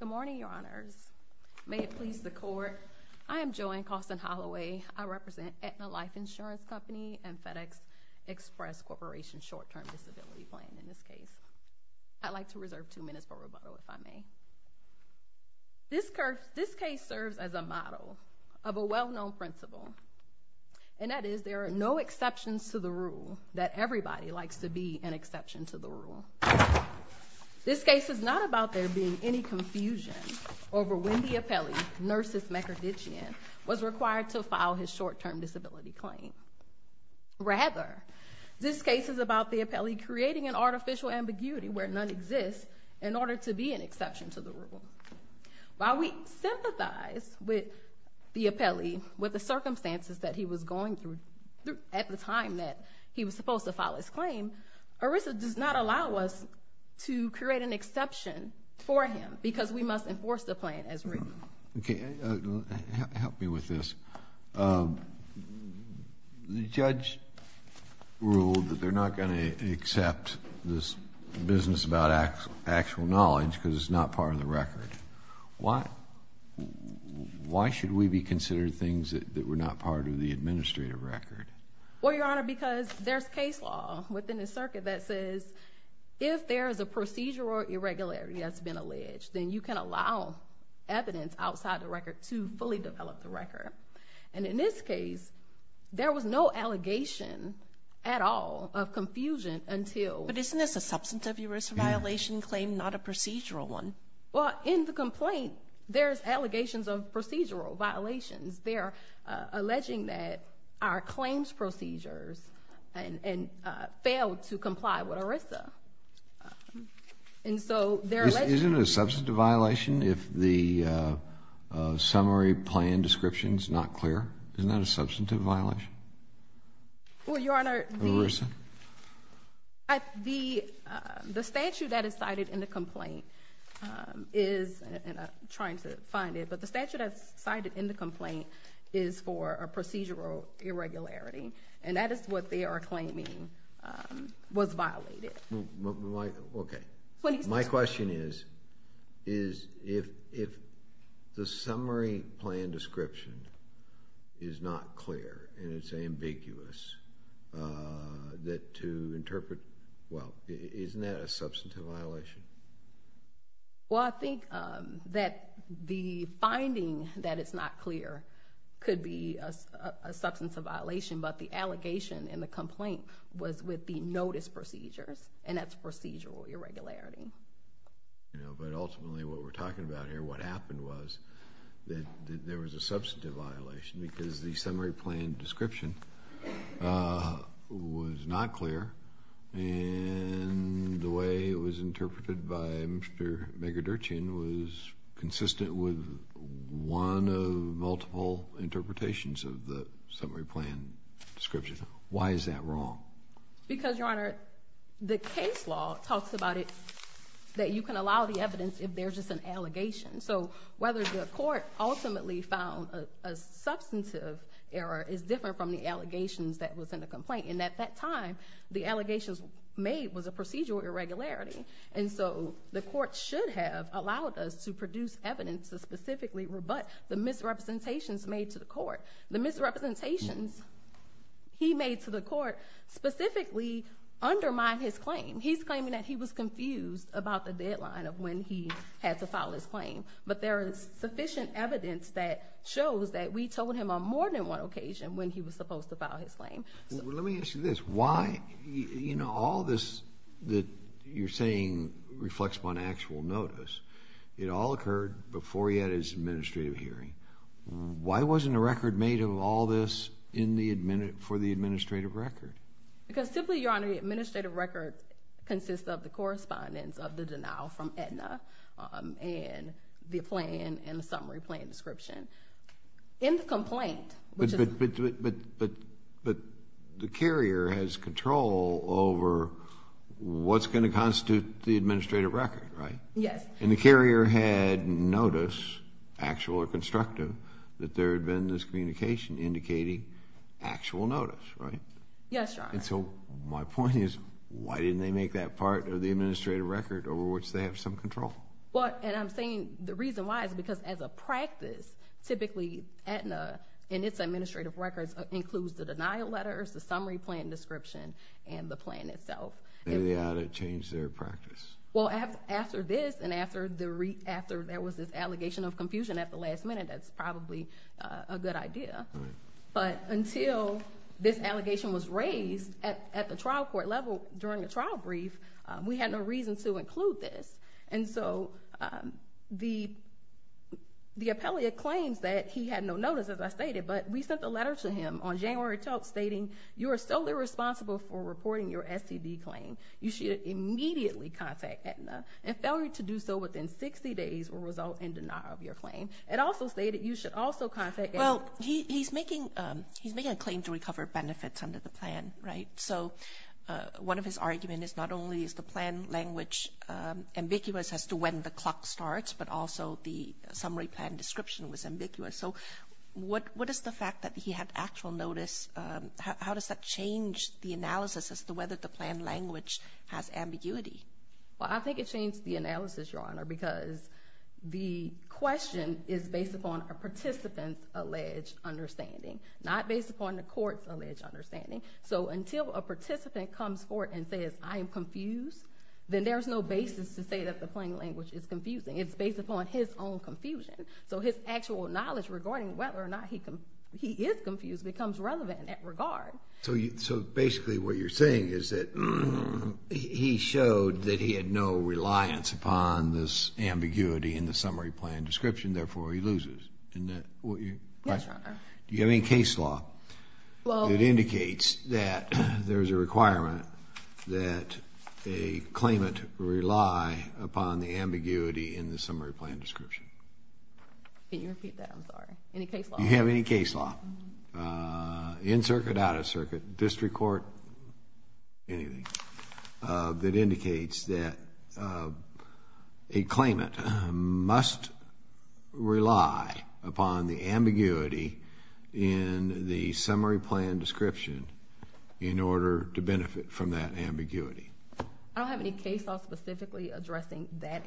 Good morning, your honors. May it please the court, I am Joanne Causton Holloway. I represent Aetna Life Insurance Company and FedEx Express Corporation Short-Term Disability Plan, in this case. I'd like to reserve two minutes for rebuttal, if I may. This case serves as a model of a well-known principle, and that is there are no exceptions to the rule, that is, this case is not about there being any confusion over when the appellee, Nerses Meguerditchian, was required to file his short-term disability claim. Rather, this case is about the appellee creating an artificial ambiguity where none exists in order to be an exception to the rule. While we sympathize with the appellee, with the circumstances that he was going through at the time that he was supposed to file his claim, ERISA does not allow us to create an exception for him because we must enforce the plan as written. Okay, help me with this. The judge ruled that they're not going to accept this business about actual knowledge because it's not part of the record. Why should we be considering things that were not part of the administrative record? Well, Your Honor, because there's case law within the circuit that says if there is a procedural irregularity that's been alleged, then you can allow evidence outside the record to fully develop the record. And in this case, there was no allegation at all of confusion until... But isn't this a substantive ERISA violation claim, not a procedural one? Well, in the complaint, there's allegations of procedural violations. They're alleging that our claims procedures failed to comply with ERISA. And so, they're alleging... Isn't it a substantive violation if the summary plan description is not clear? Isn't that a substantive violation? Well, Your Honor, the... ERISA? The statute that is cited in the complaint is, and I'm trying to find it, but the statute that's cited in the complaint is for a procedural irregularity. And that is what they are claiming was violated. Okay. My question is, if the summary plan description is not clear and it's ambiguous, that to interpret... Well, isn't that a substantive violation? Well, I think that the finding that it's not clear could be a substantive violation, but the allegation in the complaint was with the notice procedures, and that's procedural irregularity. But ultimately, what we're talking about here, what happened was that there was a substantive violation because the summary plan description was not clear, and the way it was interpreted by Mr. Megadurchian was consistent with one of multiple interpretations of the summary plan description. Why is that wrong? Because, Your Honor, the case law talks about it that you can allow the evidence if there's just an allegation. So, whether the court ultimately found a substantive error is different from the allegations that was in the complaint. And at that time, the allegations made was a procedural irregularity, and so the court should have allowed us to produce evidence to specifically rebut the misrepresentations made to the court. The misrepresentations he made to the court specifically undermine his claim. He's claiming that he was confused about the deadline of when he had to file his claim, but there is sufficient evidence that shows that we told him on more than one occasion when he was supposed to file his claim. Well, let me ask you this. Why, you know, all this that you're saying reflects on actual notice. It all occurred before he had his administrative hearing. Why wasn't a record made of all this for the administrative record? Because, simply, Your Honor, the administrative record consists of the correspondence of the denial from Aetna and the plan and the summary plan description. In the complaint, which the carrier has control over, what's going to constitute the administrative record, right? Yes. And the carrier had notice, actual or constructive, that there had been this communication indicating actual notice, right? Yes, Your Honor. And so my point is, why didn't they make that part of the administrative record over which they have some control? Well, and I'm saying the reason why is because as a practice, typically, Aetna and its administrative records includes the denial letters, the summary plan description, and the plan itself. Maybe they ought to change their practice. Well, after this and after there was this allegation of confusion at the last minute, that's probably a good idea. Right. But until this allegation was raised at the trial court level during the trial brief, we had no reason to include this. And so the appellate claims that he had no notice, as I stated, but we sent a letter to him on January 12th stating, you are solely responsible for reporting your STD claim. You should immediately contact Aetna. A failure to do so within 60 days will result in denial of your claim. It also stated you should also contact Aetna. Well, he's making a claim to recover benefits under the plan, right? So one of his arguments is not only is the plan language ambiguous as to when the clock starts, but also the fact that he had actual notice, how does that change the analysis as to whether the plan language has ambiguity? Well, I think it changed the analysis, Your Honor, because the question is based upon a participant's alleged understanding, not based upon the court's alleged understanding. So until a participant comes forward and says, I am confused, then there is no basis to say that the plan language is confusing. It's based upon his own confusion. So his actual knowledge regarding whether or not he is confused becomes relevant in that regard. So basically what you're saying is that he showed that he had no reliance upon this ambiguity in the summary plan description, therefore he loses? Yes, Your Honor. Do you have any case law that indicates that there is a requirement that a claimant rely upon the ambiguity in the summary plan description? Can you repeat that? I'm sorry. Any case law? Do you have any case law, in circuit, out of circuit, district court, anything, that indicates that a claimant must rely upon the ambiguity in the summary plan description I don't have any case law specifically addressing that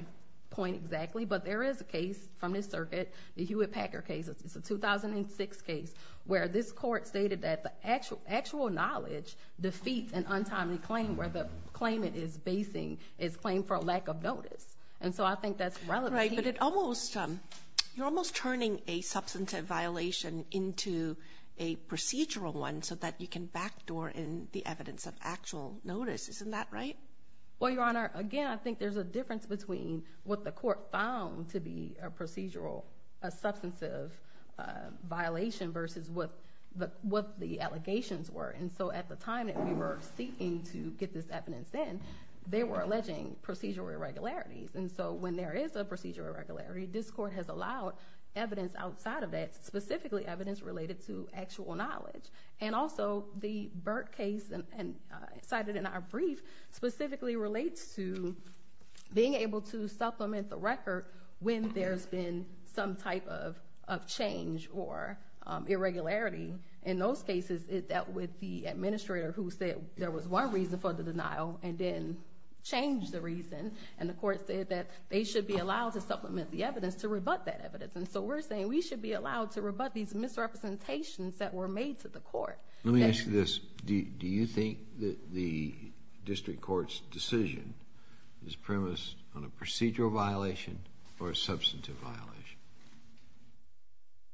point exactly, but there is a case from this circuit, the Hewitt-Packer case, it's a 2006 case, where this court stated that the actual knowledge defeats an untimely claim where the claimant is basing his claim for a lack of notice. And so I think that's relevant. Right, but it almost, you're almost turning a substantive violation into a procedural one so that you can backdoor in the evidence of actual notice. Isn't that right? Well, Your Honor, again, I think there's a difference between what the court found to be a procedural, a substantive violation versus what the allegations were. And so at the time that we were seeking to get this evidence in, they were alleging procedural irregularities. And so when there is a procedural irregularity, this court has allowed evidence outside of that specifically evidence related to actual knowledge. And also, the Burt case cited in our brief specifically relates to being able to supplement the record when there's been some type of change or irregularity. In those cases, it dealt with the administrator who said there was one reason for the denial and then changed the reason. And the court said that they should be allowed to supplement the evidence to rebut that evidence. And so we're saying we should be allowed to rebut these misrepresentations that were made to the court. Let me ask you this. Do you think that the district court's decision is premised on a procedural violation or a substantive violation?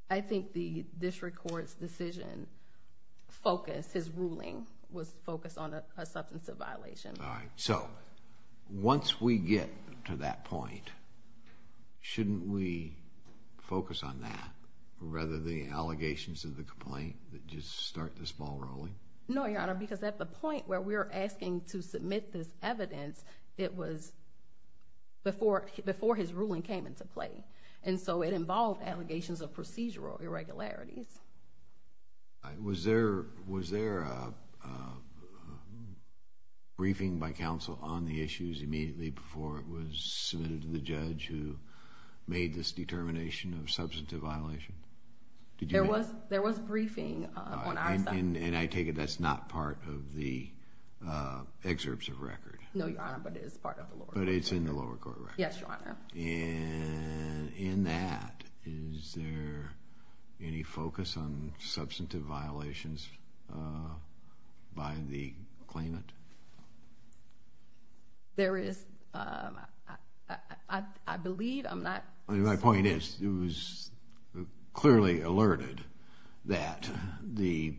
I think the district court's decision focus, his ruling, was focused on a substantive violation. All right. So once we get to that point, shouldn't we focus on that rather than the allegations of the complaint that just start this ball rolling? No, Your Honor, because at the point where we're asking to submit this evidence, it was before his ruling came into play. And so it involved allegations of procedural irregularities. Was there a briefing by counsel on the issues immediately before it was submitted to the judge who made this determination of substantive violation? There was briefing on our side. And I take it that's not part of the excerpts of record. No, Your Honor, but it is part of the lower court record. But it's in the lower court record. Yes, Your Honor. And in that, is there any focus on substantive violations by the claimant? There is. I believe. I'm not. My point is it was clearly alerted that the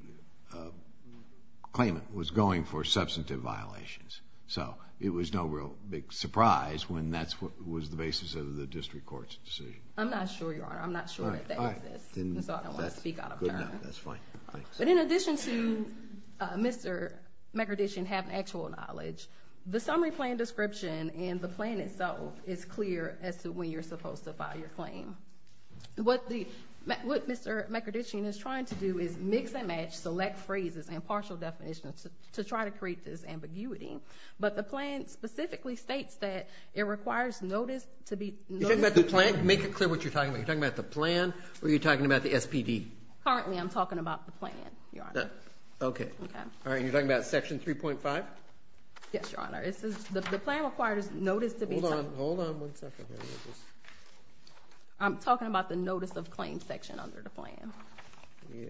claimant was going for substantive violations. So it was no real big surprise when that was the basis of the district court's decision. I'm not sure, Your Honor. I'm not sure that that exists. So I don't want to speak out of turn. No, that's fine. Thanks. But in addition to Mr. McCordishian having actual knowledge, the summary plan description and the plan itself is clear as to when you're supposed to file your claim. What Mr. McCordishian is trying to do is mix and match select phrases and partial definitions to try to create this ambiguity. But the plan specifically states that it requires notice to be You're talking about the plan? Make it clear what you're talking about. You're talking about the plan or you're talking about the SPD? Currently, I'm talking about the plan, Your Honor. Okay. Okay. All right. And you're talking about Section 3.5? Yes, Your Honor. The plan requires notice to be Hold on. Hold on one second here. I'm talking about the notice of claim section under the plan. Yeah.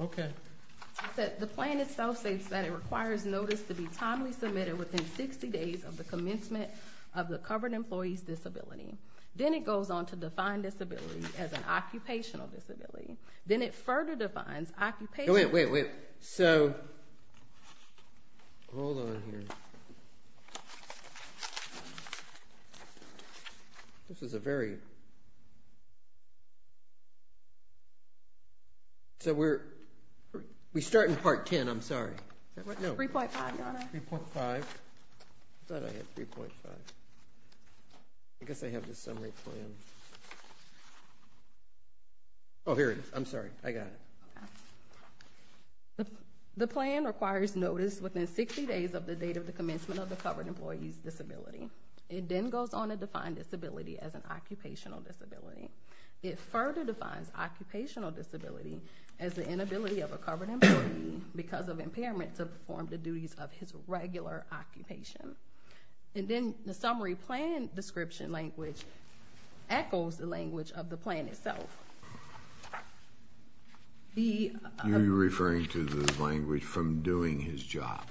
Okay. The plan itself states that it requires notice to be timely submitted within 60 days of the commencement of the covered employee's disability. Then it goes on to define disability as an occupational disability. Then it further defines occupational Wait, wait, wait. So hold on here. This is a very So we're We start in Part 10. I'm sorry. 3.5, Your Honor. 3.5. I thought I had 3.5. I guess I have the summary plan. Oh, here it is. I'm sorry. I got it. Okay. The plan requires notice within 60 days of the date of the commencement of the covered employee's disability. It then goes on to define disability as an occupational disability. It further defines occupational disability as the inability of a covered employee because of impairment to perform the duties of his regular occupation. And then the summary plan description language echoes the language of the plan itself. You're referring to the language from doing his job.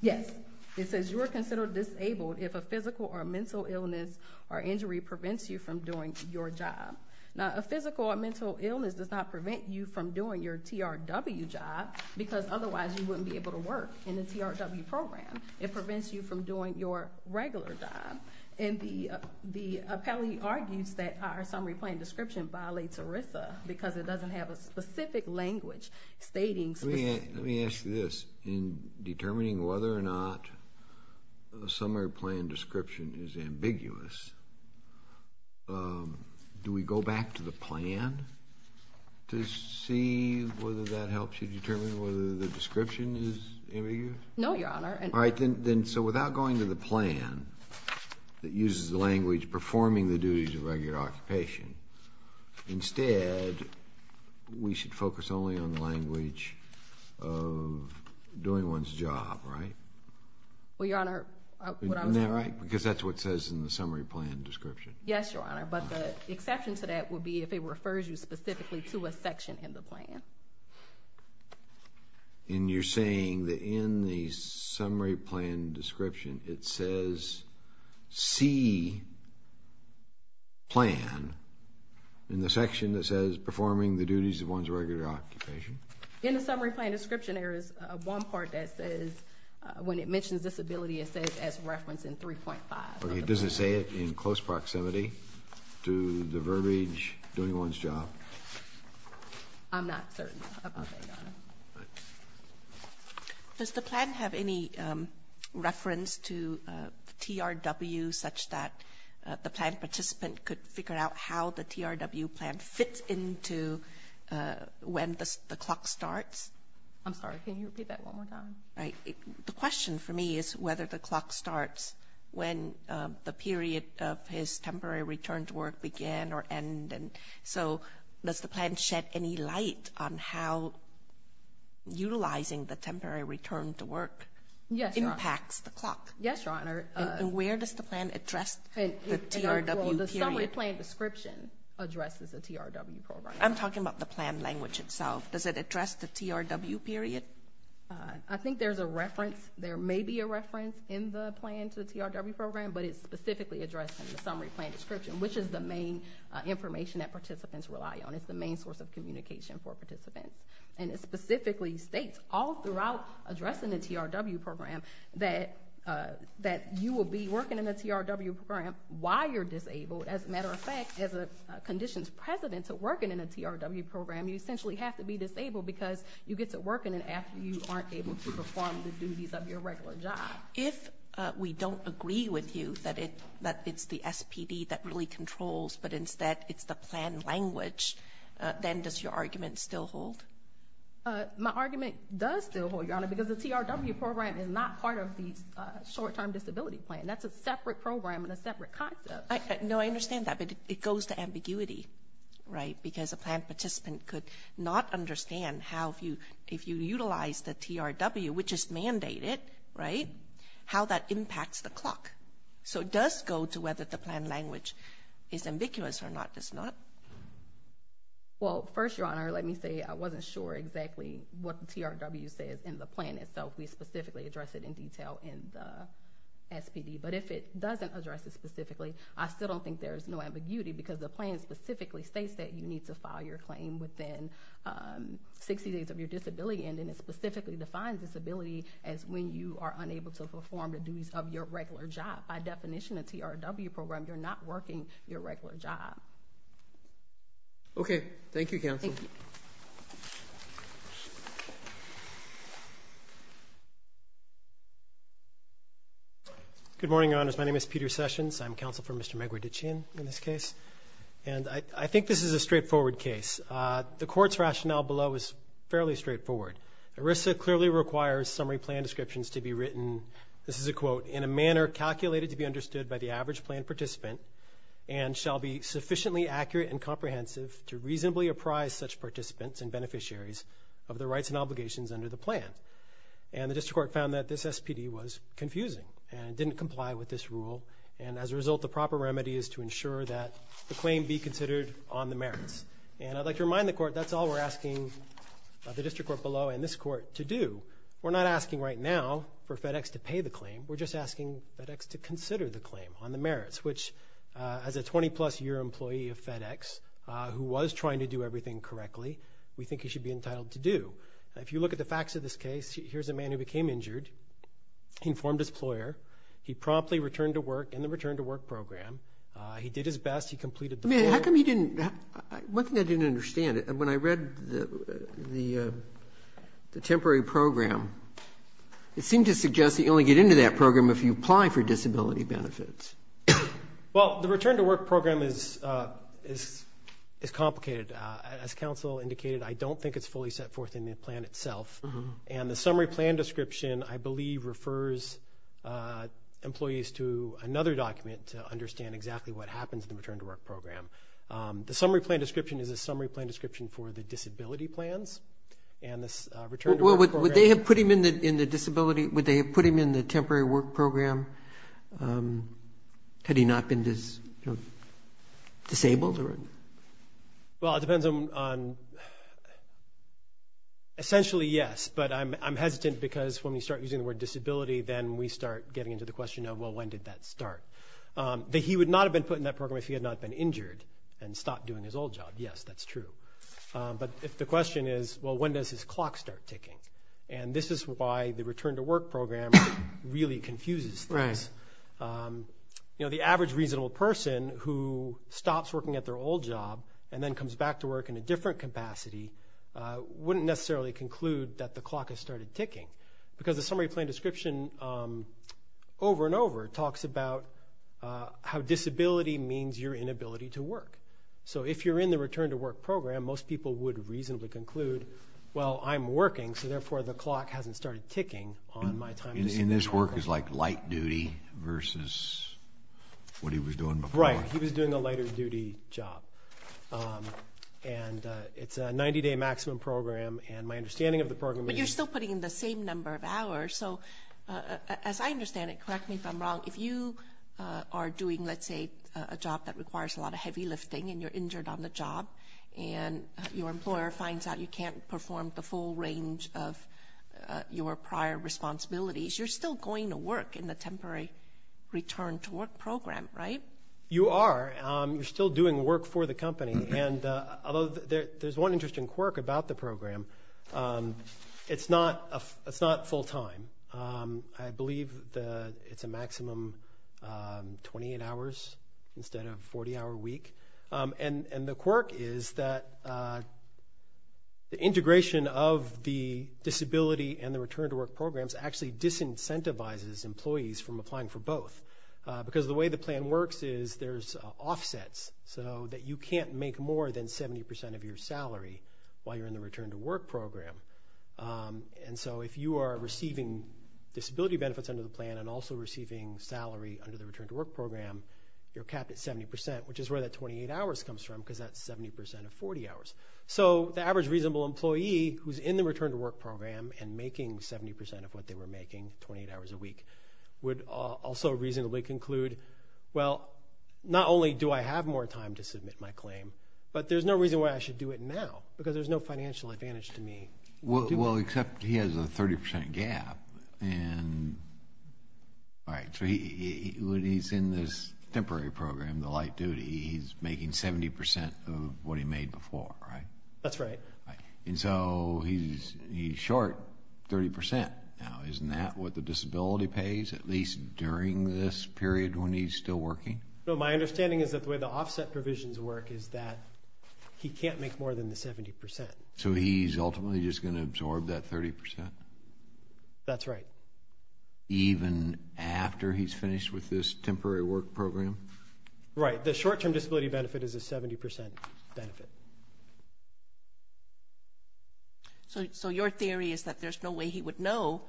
Yes. It says you are considered disabled if a physical or mental illness or injury prevents you from doing your job. Now, a physical or mental illness does not prevent you from doing your TRW job because otherwise you wouldn't be able to work in the TRW program. It prevents you from doing your regular job. And the appellee argues that our summary plan description violates ERISA because it doesn't have a specific language stating specific in determining whether or not the summary plan description is ambiguous. Do we go back to the plan to see whether that helps you determine whether the description is ambiguous? No, Your Honor. All right. So without going to the plan that uses the language performing the duties of regular occupation, instead we should focus only on the language of doing one's job, right? Well, Your Honor, what I'm saying… Isn't that right? Because that's what it says in the summary plan description. Yes, Your Honor. But the exception to that would be if it refers you specifically to a section in the plan. And you're saying that in the summary plan description it says see plan in the section that says performing the duties of one's regular occupation? In the summary plan description there is one part that says when it mentions disability it says as referencing 3.5. But it doesn't say it in close proximity to the verbiage doing one's job? I'm not certain about that, Your Honor. Does the plan have any reference to TRW such that the plan participant could figure out how the TRW plan fits into when the clock starts? I'm sorry. Can you repeat that one more time? Right. The question for me is whether the clock starts when the period of his temporary return to work began or ended. So does the plan shed any light on how utilizing the temporary return to work impacts the clock? Yes, Your Honor. And where does the plan address the TRW period? The summary plan description addresses the TRW program. I'm talking about the plan language itself. Does it address the TRW period? I think there's a reference. There may be a reference in the plan to the TRW program, but it's specifically addressed in the summary plan description, which is the main information that participants rely on. It's the main source of communication for participants. And it specifically states all throughout addressing the TRW program that you will be working in the TRW program while you're disabled. As a matter of fact, as a conditions precedent to working in a TRW program, you essentially have to be disabled because you get to work in it after you aren't able to perform the duties of your regular job. If we don't agree with you that it's the SPD that really controls, but instead it's the plan language, then does your argument still hold? My argument does still hold, Your Honor, because the TRW program is not part of the short-term disability plan. That's a separate program and a separate concept. No, I understand that, but it goes to ambiguity, right, how that impacts the clock. So it does go to whether the plan language is ambiguous or not, does it not? Well, first, Your Honor, let me say I wasn't sure exactly what the TRW says in the plan itself. We specifically address it in detail in the SPD. But if it doesn't address it specifically, I still don't think there's no ambiguity because the plan specifically states that you need to file your claim within 60 days of your disability, and then it specifically defines disability as when you are unable to perform the duties of your regular job. By definition, a TRW program, you're not working your regular job. Okay. Thank you, counsel. Thank you. Good morning, Your Honors. My name is Peter Sessions. I'm counsel for Mr. Megwidichian in this case. And I think this is a straightforward case. The court's rationale below is fairly straightforward. ERISA clearly requires summary plan descriptions to be written, this is a quote, in a manner calculated to be understood by the average plan participant and shall be sufficiently accurate and comprehensive to reasonably apprise such participants and beneficiaries of the rights and obligations under the plan. And the district court found that this SPD was confusing and didn't comply with this rule. And as a result, the proper remedy is to ensure that the claim be considered on the merits. And I'd like to remind the court that's all we're asking the district court below and this court to do. We're not asking right now for FedEx to pay the claim. We're just asking FedEx to consider the claim on the merits, which as a 20-plus year employee of FedEx who was trying to do everything correctly, we think he should be entitled to do. If you look at the facts of this case, here's a man who became injured. He informed his employer. He promptly returned to work in the return to work program. He did his best. He completed the program. How come he didn't? One thing I didn't understand, when I read the temporary program, it seemed to suggest that you only get into that program if you apply for disability benefits. Well, the return to work program is complicated. As counsel indicated, I don't think it's fully set forth in the plan itself. And the summary plan description, I believe, refers employees to another document to understand exactly what happens in the return to work program. The summary plan description is a summary plan description for the disability plans. Would they have put him in the temporary work program had he not been disabled? Well, it depends on, essentially, yes. But I'm hesitant because when we start using the word disability, then we start getting into the question of, well, when did that start? That he would not have been put in that program if he had not been injured and stopped doing his old job, yes, that's true. But if the question is, well, when does his clock start ticking? And this is why the return to work program really confuses things. The average reasonable person who stops working at their old job and then comes back to work in a different capacity wouldn't necessarily conclude that the clock has started ticking because the summary plan description, over and over, talks about how disability means your inability to work. So if you're in the return to work program, most people would reasonably conclude, well, I'm working, so therefore the clock hasn't started ticking on my time. And this work is like light duty versus what he was doing before. Right, he was doing a lighter duty job. And it's a 90-day maximum program, and my understanding of the program is— But you're still putting in the same number of hours. So as I understand it, correct me if I'm wrong, if you are doing, let's say, a job that requires a lot of heavy lifting and you're injured on the job and your employer finds out you can't perform the full range of your prior responsibilities, you're still going to work in the temporary return to work program, right? You are. You're still doing work for the company. And although there's one interesting quirk about the program, it's not full time. I believe it's a maximum 28 hours instead of a 40-hour week. And the quirk is that the integration of the disability and the return to work programs actually disincentivizes employees from applying for both because the way the plan works is there's offsets so that you can't make more than 70% of your salary while you're in the return to work program. And so if you are receiving disability benefits under the plan and also receiving salary under the return to work program, you're capped at 70%, which is where that 28 hours comes from because that's 70% of 40 hours. So the average reasonable employee who's in the return to work program and making 70% of what they were making, 28 hours a week, would also reasonably conclude, well, not only do I have more time to submit my claim, but there's no reason why I should do it now because there's no financial advantage to me. Well, except he has a 30% gap. So when he's in this temporary program, the light duty, he's making 70% of what he made before, right? That's right. And so he's short 30%. Now, isn't that what the disability pays at least during this period when he's still working? No, my understanding is that the way the offset provisions work is that he can't make more than the 70%. So he's ultimately just going to absorb that 30%? That's right. Even after he's finished with this temporary work program? Right. The short-term disability benefit is a 70% benefit. So your theory is that there's no way he would know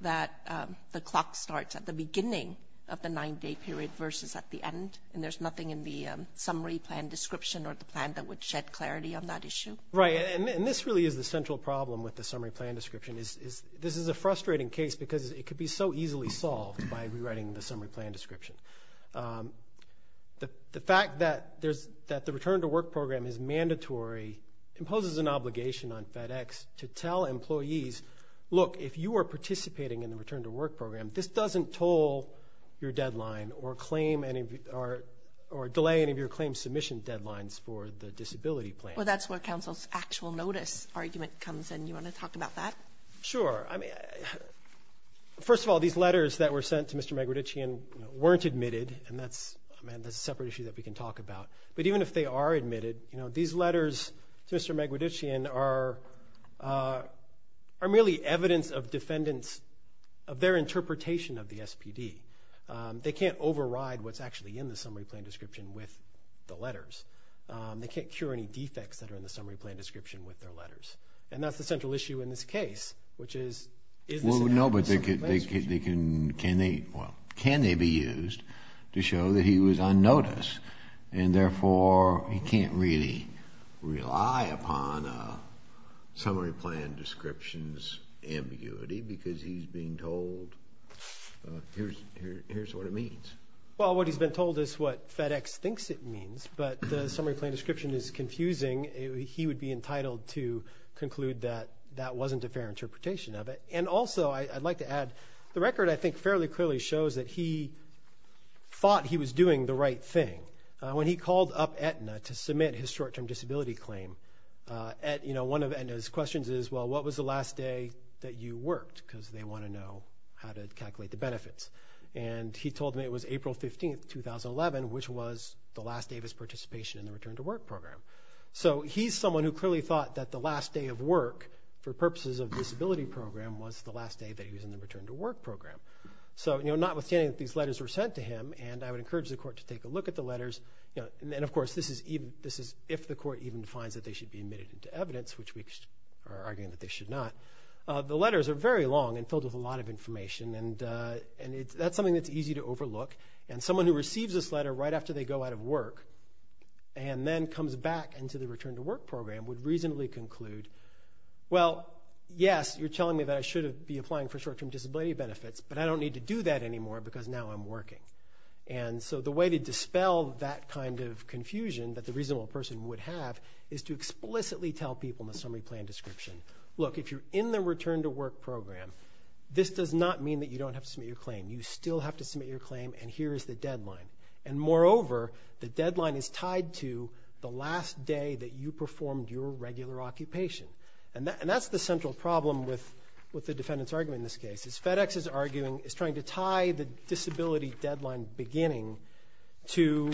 that the clock starts at the beginning of the nine-day period versus at the end, and there's nothing in the summary plan description or the plan that would shed clarity on that issue? Right. And this really is the central problem with the summary plan description. This is a frustrating case because it could be so easily solved by rewriting the summary plan description. The fact that the return-to-work program is mandatory imposes an obligation on FedEx to tell employees, look, if you are participating in the return-to-work program, this doesn't toll your deadline or delay any of your claim submission deadlines for the disability plan. Well, that's where counsel's actual notice argument comes in. Do you want to talk about that? Sure. First of all, these letters that were sent to Mr. Magrodichian weren't admitted, and that's a separate issue that we can talk about. But even if they are admitted, these letters to Mr. Magrodichian are merely evidence of their interpretation of the SPD. They can't override what's actually in the summary plan description with the letters. They can't cure any defects that are in the summary plan description with their letters. And that's the central issue in this case, which is is this enough? Well, no, but can they be used to show that he was on notice and therefore he can't really rely upon a summary plan description's ambiguity because he's being told here's what it means. Well, what he's been told is what FedEx thinks it means, but the summary plan description is confusing. He would be entitled to conclude that that wasn't a fair interpretation of it. And also I'd like to add the record I think fairly clearly shows that he thought he was doing the right thing. When he called up Aetna to submit his short-term disability claim, one of Aetna's questions is, well, what was the last day that you worked? Because they want to know how to calculate the benefits. And he told me it was April 15, 2011, which was the last day of his participation in the Return to Work program. So he's someone who clearly thought that the last day of work for purposes of the disability program was the last day that he was in the Return to Work program. So notwithstanding that these letters were sent to him, and I would encourage the court to take a look at the letters. And, of course, this is if the court even finds that they should be admitted into evidence, which we are arguing that they should not. The letters are very long and filled with a lot of information, and that's something that's easy to overlook. And someone who receives this letter right after they go out of work and then comes back into the Return to Work program would reasonably conclude, well, yes, you're telling me that I should be applying for short-term disability benefits, but I don't need to do that anymore because now I'm working. And so the way to dispel that kind of confusion that the reasonable person would have is to explicitly tell people in the summary plan description, look, if you're in the Return to Work program, this does not mean that you don't have to submit your claim. You still have to submit your claim, and here is the deadline. And, moreover, the deadline is tied to the last day that you performed your regular occupation. And that's the central problem with the defendant's argument in this case, is FedEx is trying to tie the disability deadline beginning to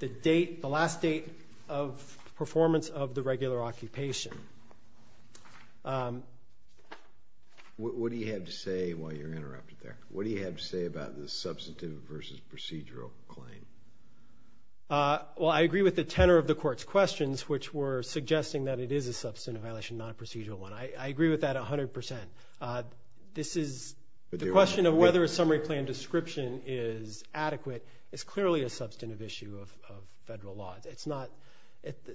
the last date of performance of the regular occupation. What do you have to say while you're interrupted there? What do you have to say about the substantive versus procedural claim? Well, I agree with the tenor of the Court's questions, which were suggesting that it is a substantive violation, not a procedural one. I agree with that 100 percent. The question of whether a summary plan description is adequate is clearly a substantive issue of federal law.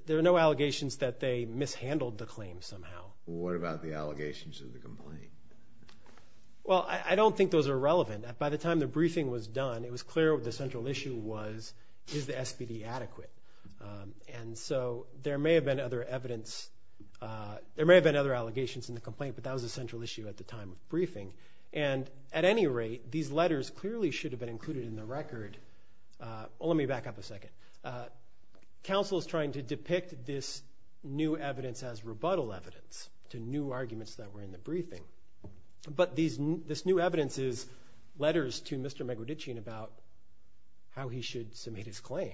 There are no allegations that they mishandled the claim somehow. What about the allegations of the complaint? Well, I don't think those are relevant. By the time the briefing was done, it was clear what the central issue was, is the SPD adequate? And so there may have been other evidence. There may have been other allegations in the complaint, but that was the central issue at the time of briefing. And, at any rate, these letters clearly should have been included in the record. Let me back up a second. Counsel is trying to depict this new evidence as rebuttal evidence to new arguments that were in the briefing. But this new evidence is letters to Mr. Megrodichian about how he should submit his claim.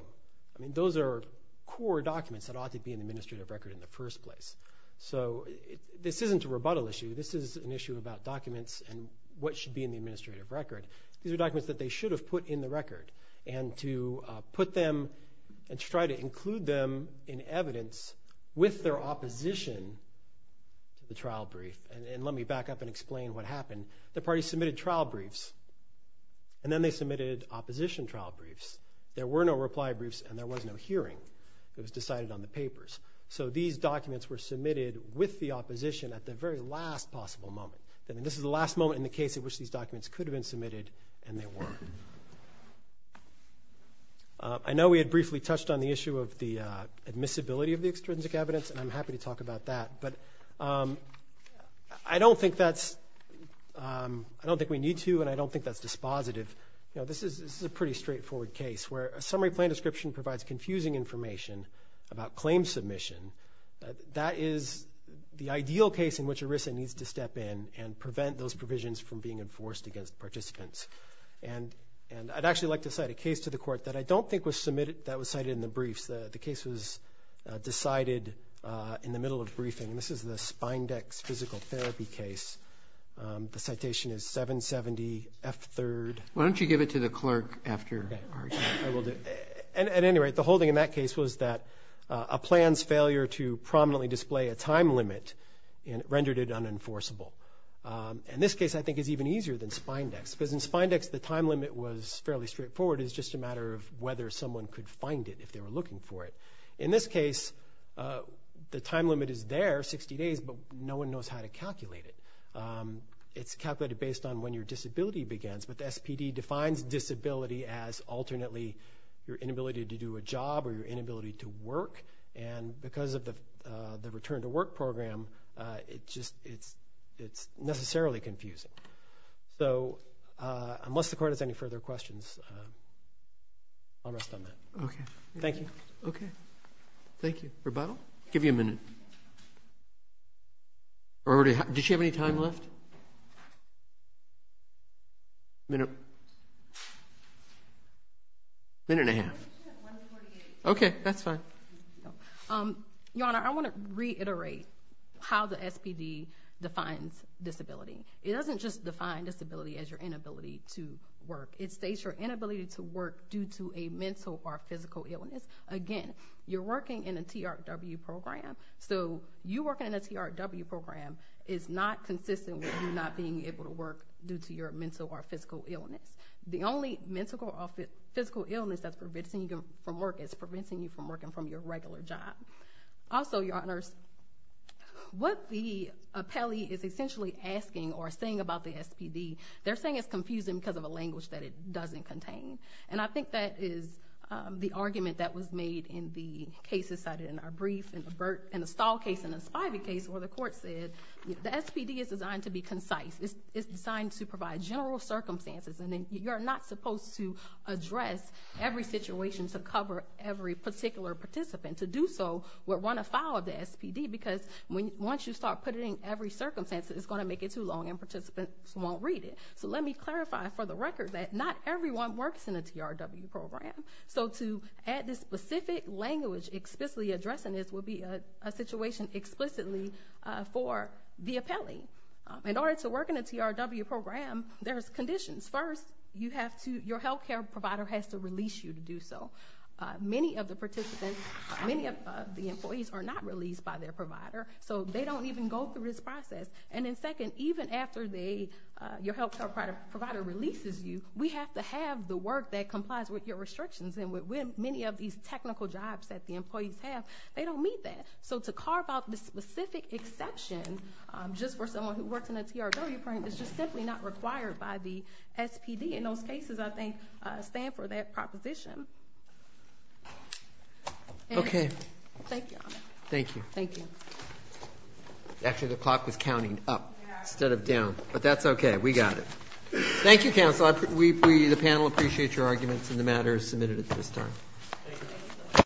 I mean, those are core documents that ought to be in the administrative record in the first place. So this isn't a rebuttal issue. This is an issue about documents and what should be in the administrative record. These are documents that they should have put in the record, and to put them and try to include them in evidence with their opposition to the trial brief. And let me back up and explain what happened. The parties submitted trial briefs, and then they submitted opposition trial briefs. There were no reply briefs, and there was no hearing. It was decided on the papers. So these documents were submitted with the opposition at the very last possible moment. I mean, this is the last moment in the case in which these documents could have been submitted, and they weren't. I know we had briefly touched on the issue of the admissibility of the extrinsic evidence, and I'm happy to talk about that. But I don't think that's... I don't think we need to, and I don't think that's dispositive. You know, this is a pretty straightforward case where a summary plan description provides confusing information about claim submission. That is the ideal case in which ERISA needs to step in and prevent those provisions from being enforced against participants. And I'd actually like to cite a case to the court that I don't think was submitted that was cited in the briefs. The case was decided in the middle of briefing, and this is the Spindex physical therapy case. The citation is 770F3. Why don't you give it to the clerk after? I will do. At any rate, the whole thing in that case was that a plan's failure to prominently display a time limit rendered it unenforceable. And this case I think is even easier than Spindex, because in Spindex the time limit was fairly straightforward. It's just a matter of whether someone could find it if they were looking for it. In this case, the time limit is there, 60 days, but no one knows how to calculate it. It's calculated based on when your disability begins, but the SPD defines disability as alternately your inability to do a job or your inability to work, and because of the return to work program, it's necessarily confusing. So unless the court has any further questions, I'll rest on that. Okay. Thank you. Okay. Thank you. Rebuttal? I'll give you a minute. Did she have any time left? No. Minute and a half. Okay, that's fine. Your Honor, I want to reiterate how the SPD defines disability. It doesn't just define disability as your inability to work. It states your inability to work due to a mental or physical illness. Again, you're working in a TRW program, so you working in a TRW program is not consistent with you not being able to work due to your mental or physical illness. The only mental or physical illness that's preventing you from work is preventing you from working from your regular job. Also, Your Honors, what the appellee is essentially asking or saying about the SPD, they're saying it's confusing because of a language that it doesn't contain, and I think that is the argument that was made in the cases cited in our brief in the Stahl case and the Spivey case where the court said the SPD is designed to be concise. It's designed to provide general circumstances, and you're not supposed to address every situation to cover every particular participant. To do so would run afoul of the SPD because once you start putting in every circumstance, it's going to make it too long and participants won't read it. So let me clarify for the record that not everyone works in a TRW program, so to add this specific language explicitly addressing this would be a situation explicitly for the appellee. In order to work in a TRW program, there's conditions. First, your health care provider has to release you to do so. Many of the participants, many of the employees are not released by their provider, so they don't even go through this process. And then second, even after your health care provider releases you, we have to have the work that complies with your restrictions, and many of these technical jobs that the employees have, they don't meet that. So to carve out this specific exception just for someone who works in a TRW program is just simply not required by the SPD. And those cases, I think, stand for that proposition. Okay. Thank you, Your Honor. Thank you. Thank you. Actually, the clock was counting up instead of down, but that's okay. We got it. Thank you, counsel. The panel appreciates your arguments, and the matter is submitted at this time.